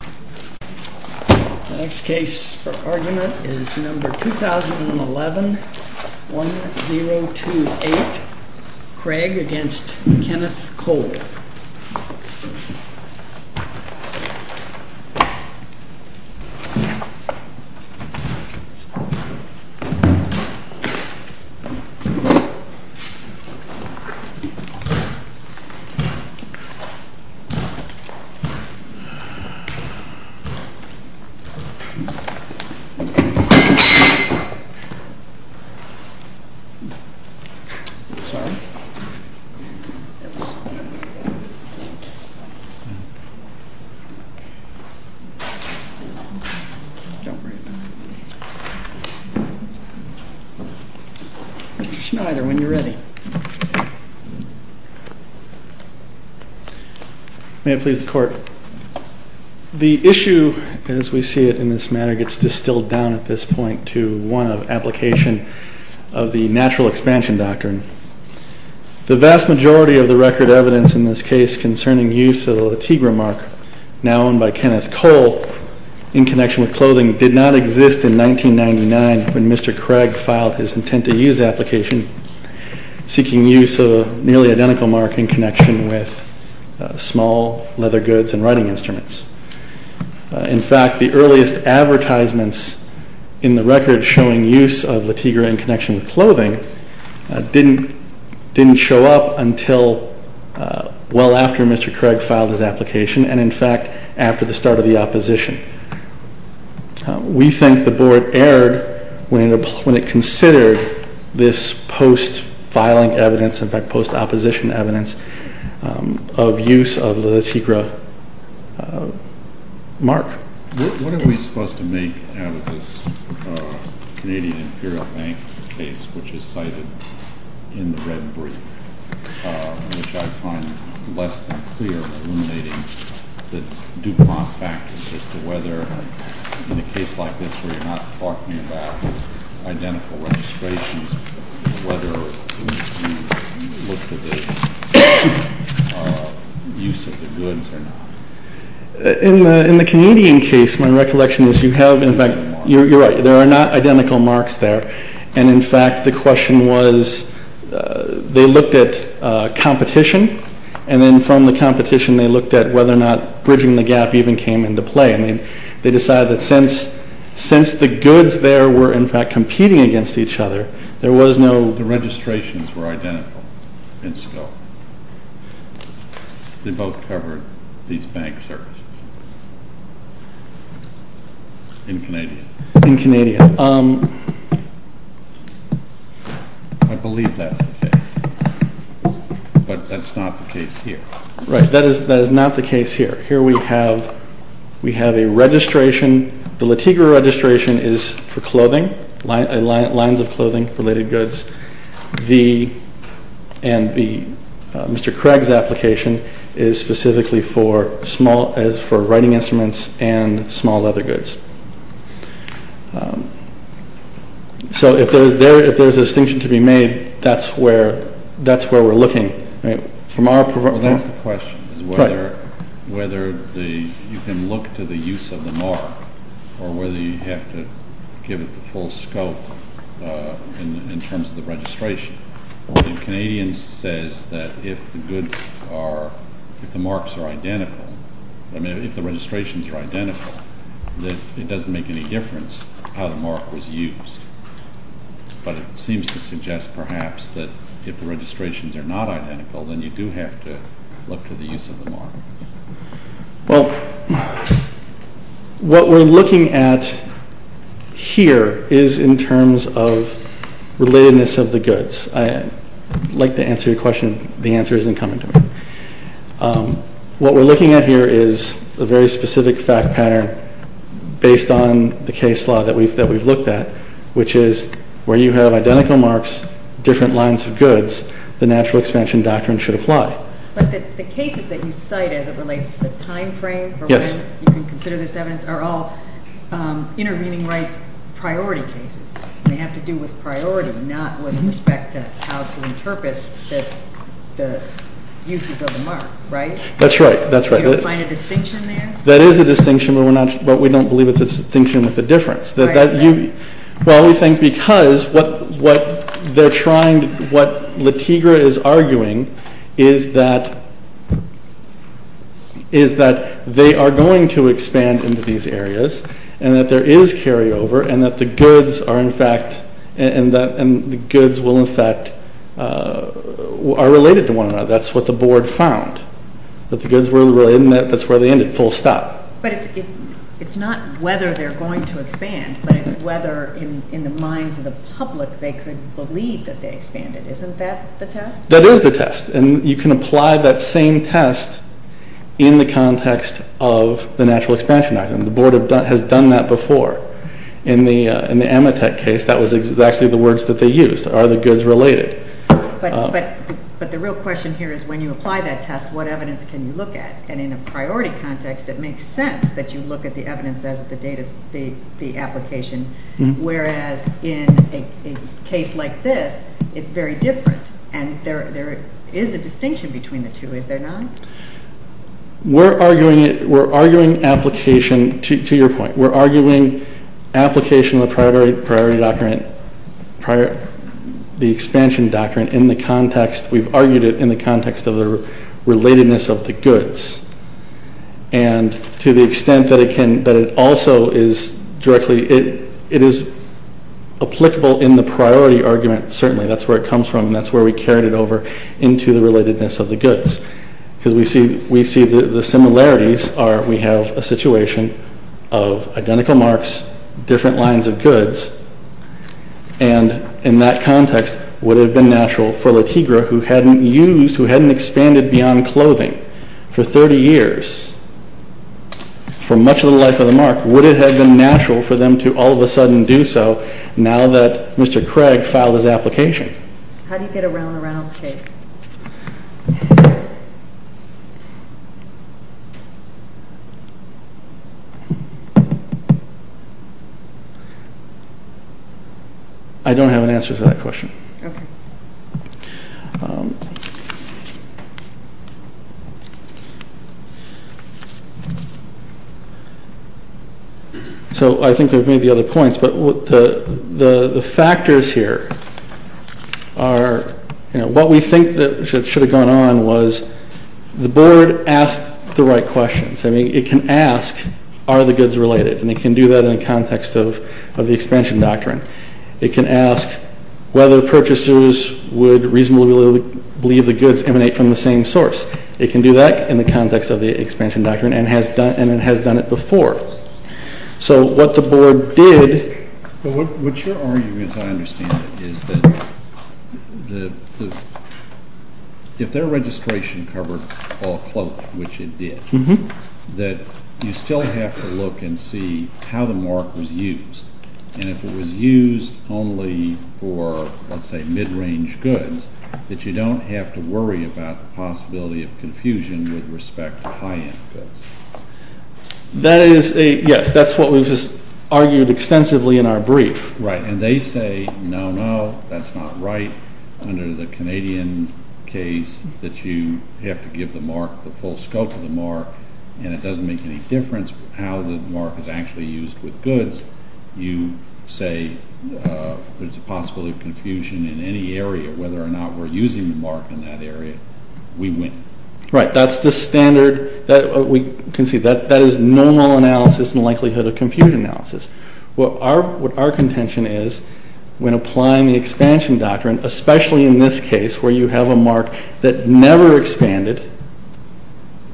The next case for argument is number 2011-1028, Craig v. Kenneth Cole. Mr. Schneider, when you're ready. May it please the court. The issue, as we see it in this matter, gets distilled down at this point to one of application of the natural expansion doctrine. The vast majority of the record evidence in this case concerning use of the Latigre mark, now owned by Kenneth Cole, in connection with clothing, did not exist in 1999 when Mr. Craig filed his intent-to-use application, seeking use of a nearly identical mark in connection with small leather goods and writing instruments. In fact, the earliest advertisements in the record showing use of Latigre in connection with clothing didn't show up until well after Mr. Craig filed his application, and in fact, after the start of the opposition. We think the board erred when it considered this post-filing evidence, in fact post-opposition evidence, of use of the Latigre mark. What are we supposed to make out of this Canadian Imperial Bank case, which is cited in the red brief, which I find less than clear in eliminating the Dupont factors as to whether, in a case like this, where you're not talking about identical registrations, whether you look for the use of the goods or not? In the Canadian case, my recollection is you have, in fact, you're right, there are not identical marks there, and in fact, the question was, they looked at competition, and then from the competition, they looked at whether or not bridging the gap even came into play. I mean, they decided that since the goods there were, in fact, competing against each other, there was no... They both covered these bank services in Canadian. In Canadian. I believe that's the case, but that's not the case here. Right, that is not the case here. Here we have a registration. The Latigre registration is for clothing, lines of clothing, related goods. And Mr. Craig's application is specifically for writing instruments and small leather goods. So if there's a distinction to be made, that's where we're looking. Well, that's the question, is whether you can look to the use of the mark or whether you have to give it the full scope in terms of the registration. The Canadian says that if the goods are, if the marks are identical, I mean, if the registrations are identical, that it doesn't make any difference how the mark was used. But it seems to suggest, perhaps, that if the registrations are not identical, then you do have to look to the use of the mark. Well, what we're looking at here is in terms of relatedness of the goods. I'd like to answer your question. The answer isn't coming to me. What we're looking at here is a very specific fact pattern based on the case law that we've looked at, which is where you have identical marks, different lines of goods, the natural expansion doctrine should apply. But the cases that you cite as it relates to the time frame for when you can consider this evidence are all intervening rights priority cases. They have to do with priority, not with respect to how to interpret the uses of the mark, right? That's right. Do you find a distinction there? That is a distinction, but we don't believe it's a distinction with a difference. Why is that? Well, we think because what they're trying, what LaTigre is arguing, is that they are going to expand into these areas, and that there is carryover, and that the goods are, in fact, and the goods will, in fact, are related to one another. That's what the board found, that the goods were related, and that's where they ended, full stop. But it's not whether they're going to expand, but it's whether in the minds of the public they could believe that they expanded. Isn't that the test? That is the test, and you can apply that same test in the context of the Natural Expansion Doctrine. The board has done that before. In the Ametek case, that was exactly the words that they used, are the goods related. But the real question here is when you apply that test, what evidence can you look at? And in a priority context, it makes sense that you look at the evidence as the date of the application, whereas in a case like this, it's very different, and there is a distinction between the two, is there not? We're arguing it, we're arguing application, to your point, we're arguing application of the Priority Doctrine, the Expansion Doctrine in the context, we've argued it in the context of the relatedness of the goods. And to the extent that it also is directly, it is applicable in the priority argument, certainly, that's where it comes from, and that's where we carried it over into the relatedness of the goods. Because we see the similarities are we have a situation of identical marks, different lines of goods, and in that context, would it have been natural for LaTigre, who hadn't used, who hadn't expanded beyond clothing for 30 years, for much of the life of the mark, would it have been natural for them to all of a sudden do so, now that Mr. Craig filed his application? How do you get around the Reynolds case? I don't have an answer to that question. Okay. So I think we've made the other points, but the factors here are, you know, what we think that should have gone on was the Board asked the right questions. I mean, it can ask, are the goods related? And it can do that in the context of the Expansion Doctrine. It can ask whether purchasers would reasonably believe the goods emanate from the same source. It can do that in the context of the Expansion Doctrine and has done it before. So what the Board did... But what you're arguing, as I understand it, is that if their registration covered all clothing, which it did, that you still have to look and see how the mark was used. And if it was used only for, let's say, mid-range goods, that you don't have to worry about the possibility of confusion with respect to high-end goods. That is a, yes, that's what we've just argued extensively in our brief. Right. And they say, no, no, that's not right. Under the Canadian case, that you have to give the mark, the full scope of the mark, and it doesn't make any difference how the mark is actually used with goods. As long as you say there's a possibility of confusion in any area, whether or not we're using the mark in that area, we win. Right. That's the standard that we can see. That is normal analysis and likelihood of confusion analysis. What our contention is, when applying the Expansion Doctrine, especially in this case where you have a mark that never expanded,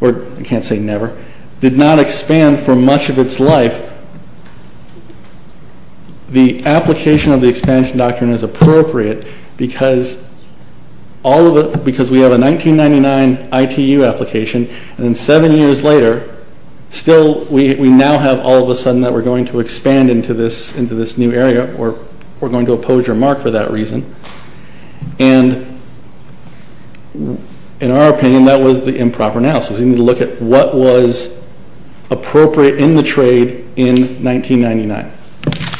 or I can't say never, did not expand for much of its life, the application of the Expansion Doctrine is appropriate because we have a 1999 ITU application, and then seven years later, still we now have all of a sudden that we're going to expand into this new area, or we're going to oppose your mark for that reason. In our opinion, that was the improper analysis. We need to look at what was appropriate in the trade in 1999. Okay.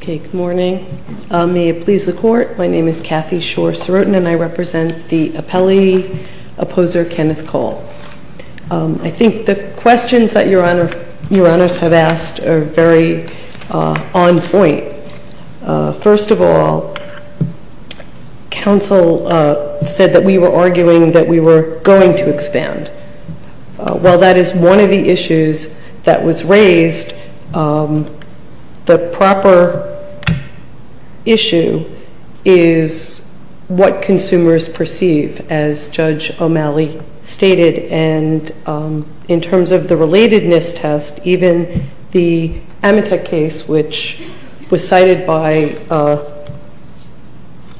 Good morning. May it please the Court, my name is Kathy Schor-Sorotin, and I represent the appellee opposer, Kenneth Cole. I think the questions that Your Honors have asked are very, One of the questions that I have is, First of all, counsel said that we were arguing that we were going to expand. While that is one of the issues that was raised, the proper issue is what consumers perceive, as Judge O'Malley stated, and in terms of the relatedness test, even the Amitek case, which was cited by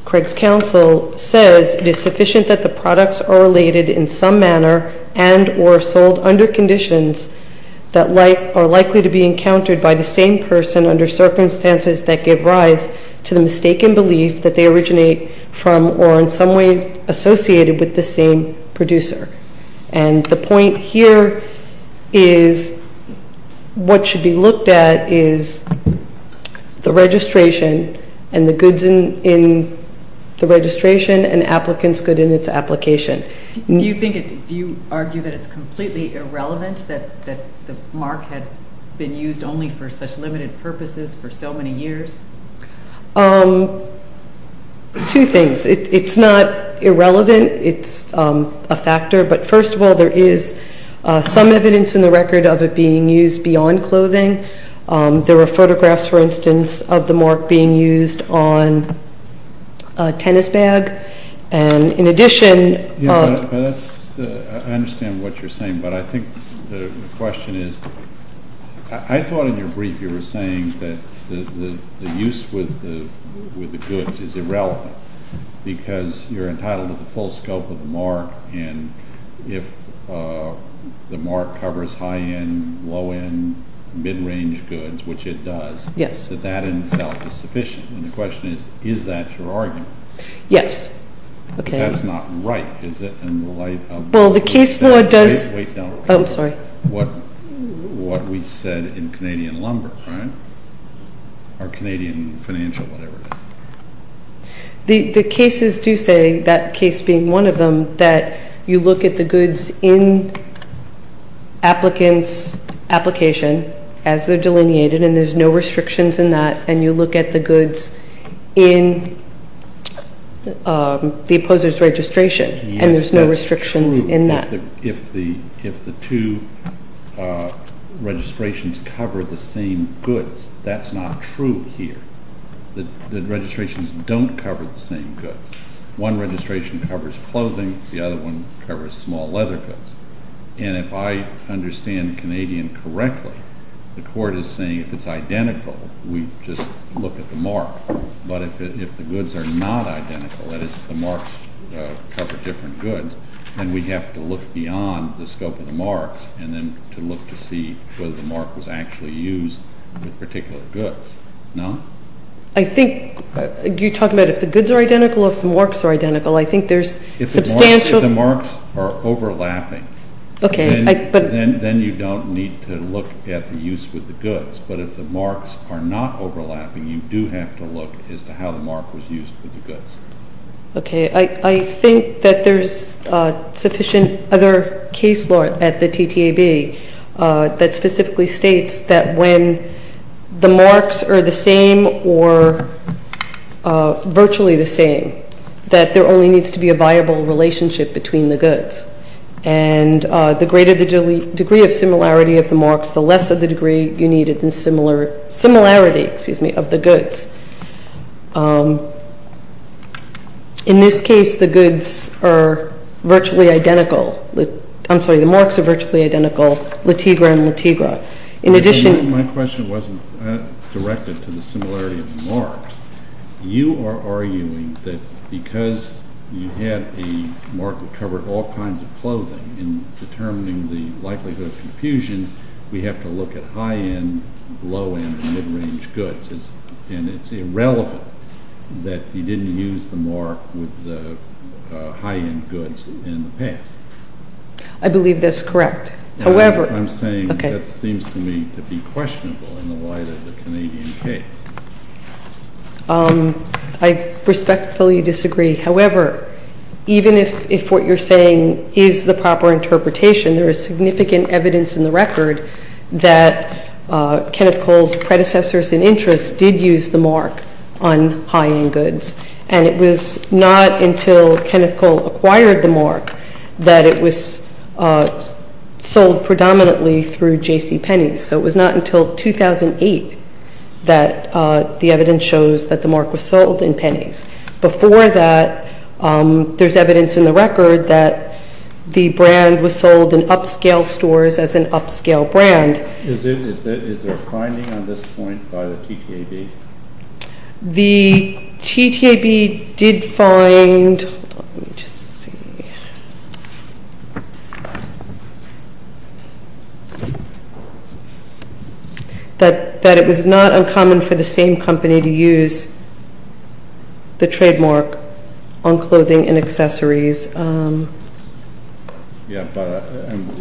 Craig's counsel, says it is sufficient that the products are related in some manner and or sold under conditions that are likely to be encountered by the same person under circumstances that give rise to the mistaken belief that they originate from or in some way associated with the same producer. The point here is what should be looked at is the registration and the goods in the registration and applicants' goods in its application. Do you argue that it is completely irrelevant that the mark had been used only for such limited purposes for so many years? Two things. It's not irrelevant. It's a factor, but first of all, there is some evidence in the record of it being used beyond clothing. There were photographs, for instance, of the mark being used on a tennis bag, and in addition I understand what you're saying, but I think the question is, I thought in your brief you were saying that the use with the goods is irrelevant because you're entitled to the full scope of the mark, and if the mark covers high-end, low-end, mid-range goods, which it does, that that in itself is sufficient. And the question is, is that your argument? Yes. That's not right, is it, in the light of Well, the case law does what we said in Canadian lumber, right? Or Canadian financial, whatever it is. The cases do say, that case being one of them, that you look at the goods in applicants' application as they're delineated and there's no restrictions in that, and you look at the goods in the opposer's registration and there's no restrictions in that. If the two registrations cover the same goods, that's not true here. The registrations don't cover the same goods. One registration covers clothing, the other one covers small leather goods. And if I understand Canadian correctly, the court is saying if it's identical, we just look at the mark. But if the goods are not identical, that is, if the marks cover different goods, then we have to look beyond the scope of the marks and then to look to see whether the mark was actually used with particular goods. No? I think you're talking about if the goods are identical or if the marks are identical. I think there's substantial If the marks are overlapping, then you don't need to look at the use with the goods. But if the marks are not overlapping, you do have to look as to how the mark was used with the goods. Okay. I think that there's sufficient other case law at the TTAB that specifically states that when the marks are the same or virtually the same, that there only needs to be a viable relationship between the goods. And the greater the degree of similarity of the marks, the less of the degree you need a similarity of the goods. In this case, the goods are virtually identical. I'm sorry, the marks are virtually identical, litigra and litigra. My question wasn't directed to the similarity of the marks. You are arguing that because you had a mark that covered all kinds of clothing and determining the likelihood of confusion, we have to look at high-end, low-end, and mid-range goods. And it's irrelevant that you didn't use the mark with the high-end goods in the past. I believe that's correct. I'm saying that seems to me to be questionable in the light of the Canadian case. I respectfully disagree. However, even if what you're saying is the proper interpretation, there is significant evidence in the record that Kenneth Cole's predecessors in interest did use the mark on high-end goods. And it was not until Kenneth Cole acquired the mark that it was sold predominantly through J.C. Penney's. So it was not until 2008 that the evidence shows that the mark was sold in Penney's. Before that, there's evidence in the record that the brand was sold in upscale stores as an upscale brand. Is there a finding on this point by the TTAB? The TTAB did find that it was not uncommon for the same company to use the trademark on clothing and accessories. Yeah, but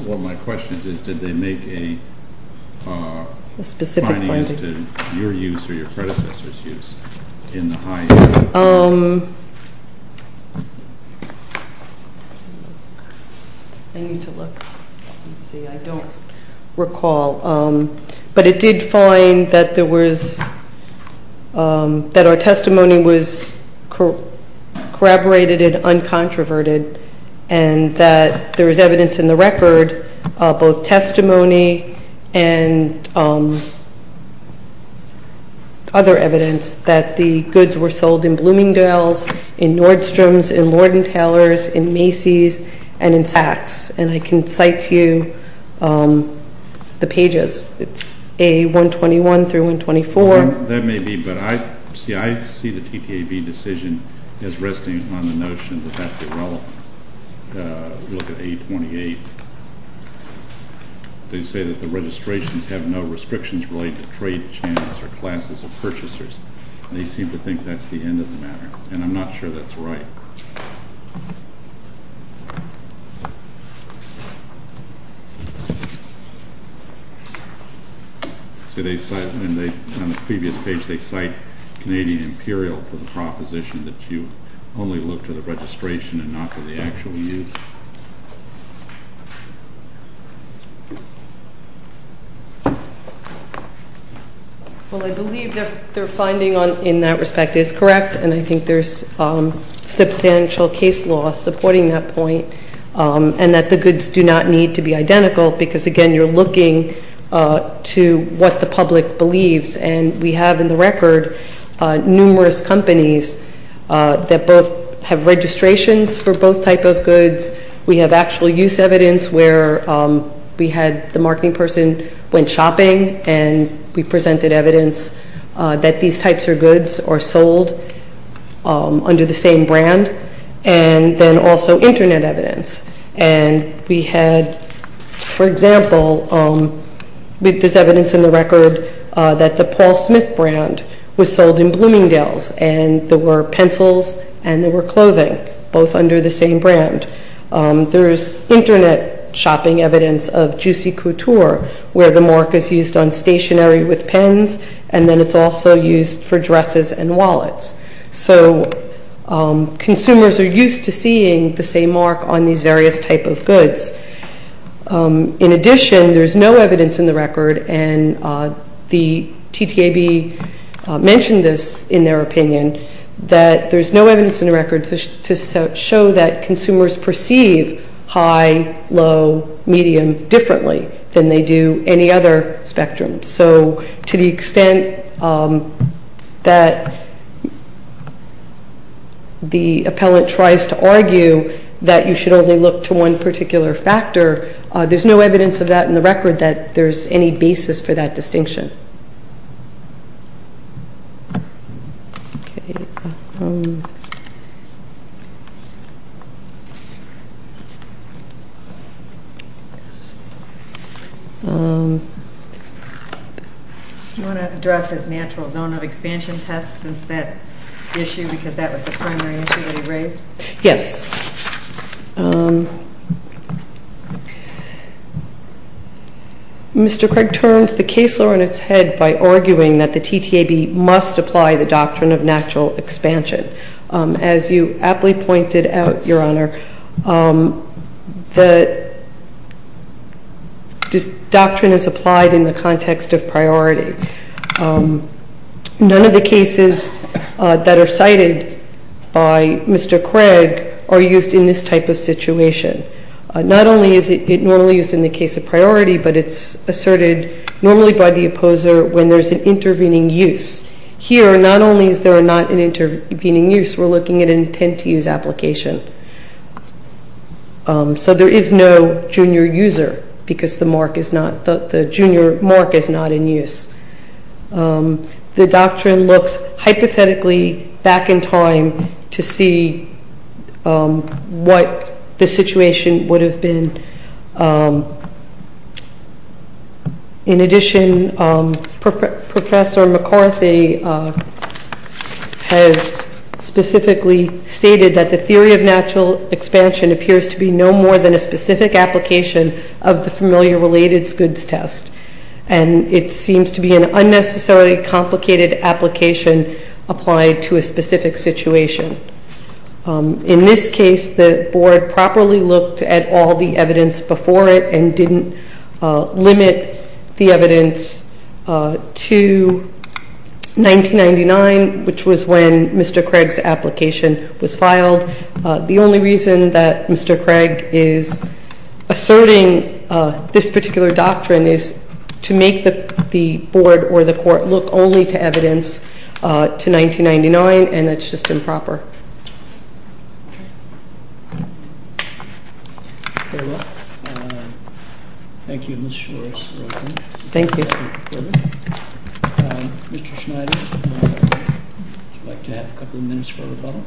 one of my questions is did they make a finding as to your use or your predecessors' use in the high-end? I need to look and see. I don't recall. But it did find that our testimony was corroborated and uncontroverted and that there was evidence in the record, both testimony and other evidence, that the goods were sold in Bloomingdale's, in Nordstrom's, in Lord & Taylor's, in Macy's, and in Sachs. And I can cite to you the pages. It's A121 through 124. That may be, but I see the TTAB decision as resting on the notion that that's irrelevant. Look at A28. They say that the registrations have no restrictions related to trade channels or classes of purchasers. They seem to think that's the end of the matter, and I'm not sure that's right. On the previous page, they cite Canadian Imperial for the proposition that you only look to the registration and not to the actual use. Well, I believe their finding in that respect is correct, and I think there's substantial case law supporting that point and that the goods do not need to be identical because, again, you're looking to what the public believes. And we have in the record numerous companies that both have registrations for both type of goods. We have actual use evidence where we had the marketing person went shopping, and we presented evidence that these types of goods are sold under the same brand, and then also Internet evidence. And we had, for example, there's evidence in the record that the Paul Smith brand was sold in Bloomingdale's, and there were pencils and there were clothing, both under the same brand. There's Internet shopping evidence of Juicy Couture, where the mark is used on stationery with pens, and then it's also used for dresses and wallets. So consumers are used to seeing the same mark on these various type of goods. In addition, there's no evidence in the record, and the TTAB mentioned this in their opinion, that there's no evidence in the record to show that consumers perceive high, low, medium differently than they do any other spectrum. So to the extent that the appellant tries to argue that you should only look to one particular factor, there's no evidence of that in the record that there's any basis for that distinction. Do you want to address his natural zone of expansion test since that issue, because that was the primary issue that he raised? Yes. Mr. Craig terms the case law in its current form, that the TTAB must apply the doctrine of natural expansion. As you aptly pointed out, Your Honor, the doctrine is applied in the context of priority. None of the cases that are cited by Mr. Craig are used in this type of situation. Not only is it normally used in the case of priority, but it's asserted normally by the opposer when there's an intervening use. Here, not only is there not an intervening use, we're looking at an intent to use application. So there is no junior user, because the junior mark is not in use. The doctrine looks hypothetically back in time to see what the situation would have been. In addition, Professor McCarthy has specifically stated that the theory of natural expansion appears to be no more than a specific application of the familiar related goods test. And it seems to be an unnecessarily complicated application applied to a specific situation. In this case, the board properly looked at all the evidence before it and didn't limit the evidence to 1999, which was when Mr. Craig's application was filed. The only reason that Mr. Craig is asserting this particular doctrine is to make the board or the court look only to evidence to 1999, and that's just improper. Very well, thank you, Ms. Schwartz. Thank you. Mr. Schneider, would you like to have a couple of minutes for rebuttal?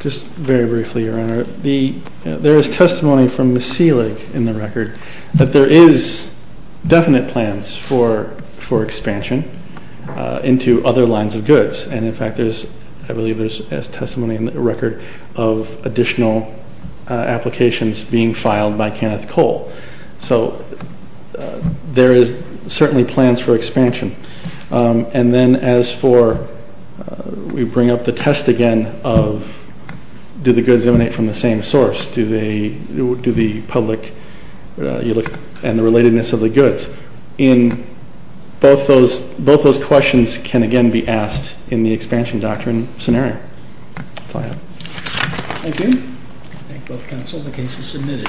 Just very briefly, Your Honor. There is testimony from Ms. Selig in the record that there is definite plans for expansion into other lines of goods. And in fact, I believe there's testimony in the record of additional applications being filed by Kenneth Cole. So there is certainly plans for expansion. And then as for, we bring up the test again of, do the goods emanate from the same source? Do the public, and the relatedness of the goods, in both those questions can again be asked in the expansion doctrine scenario. That's all I have. Thank you. I thank both counsel. The case is submitted.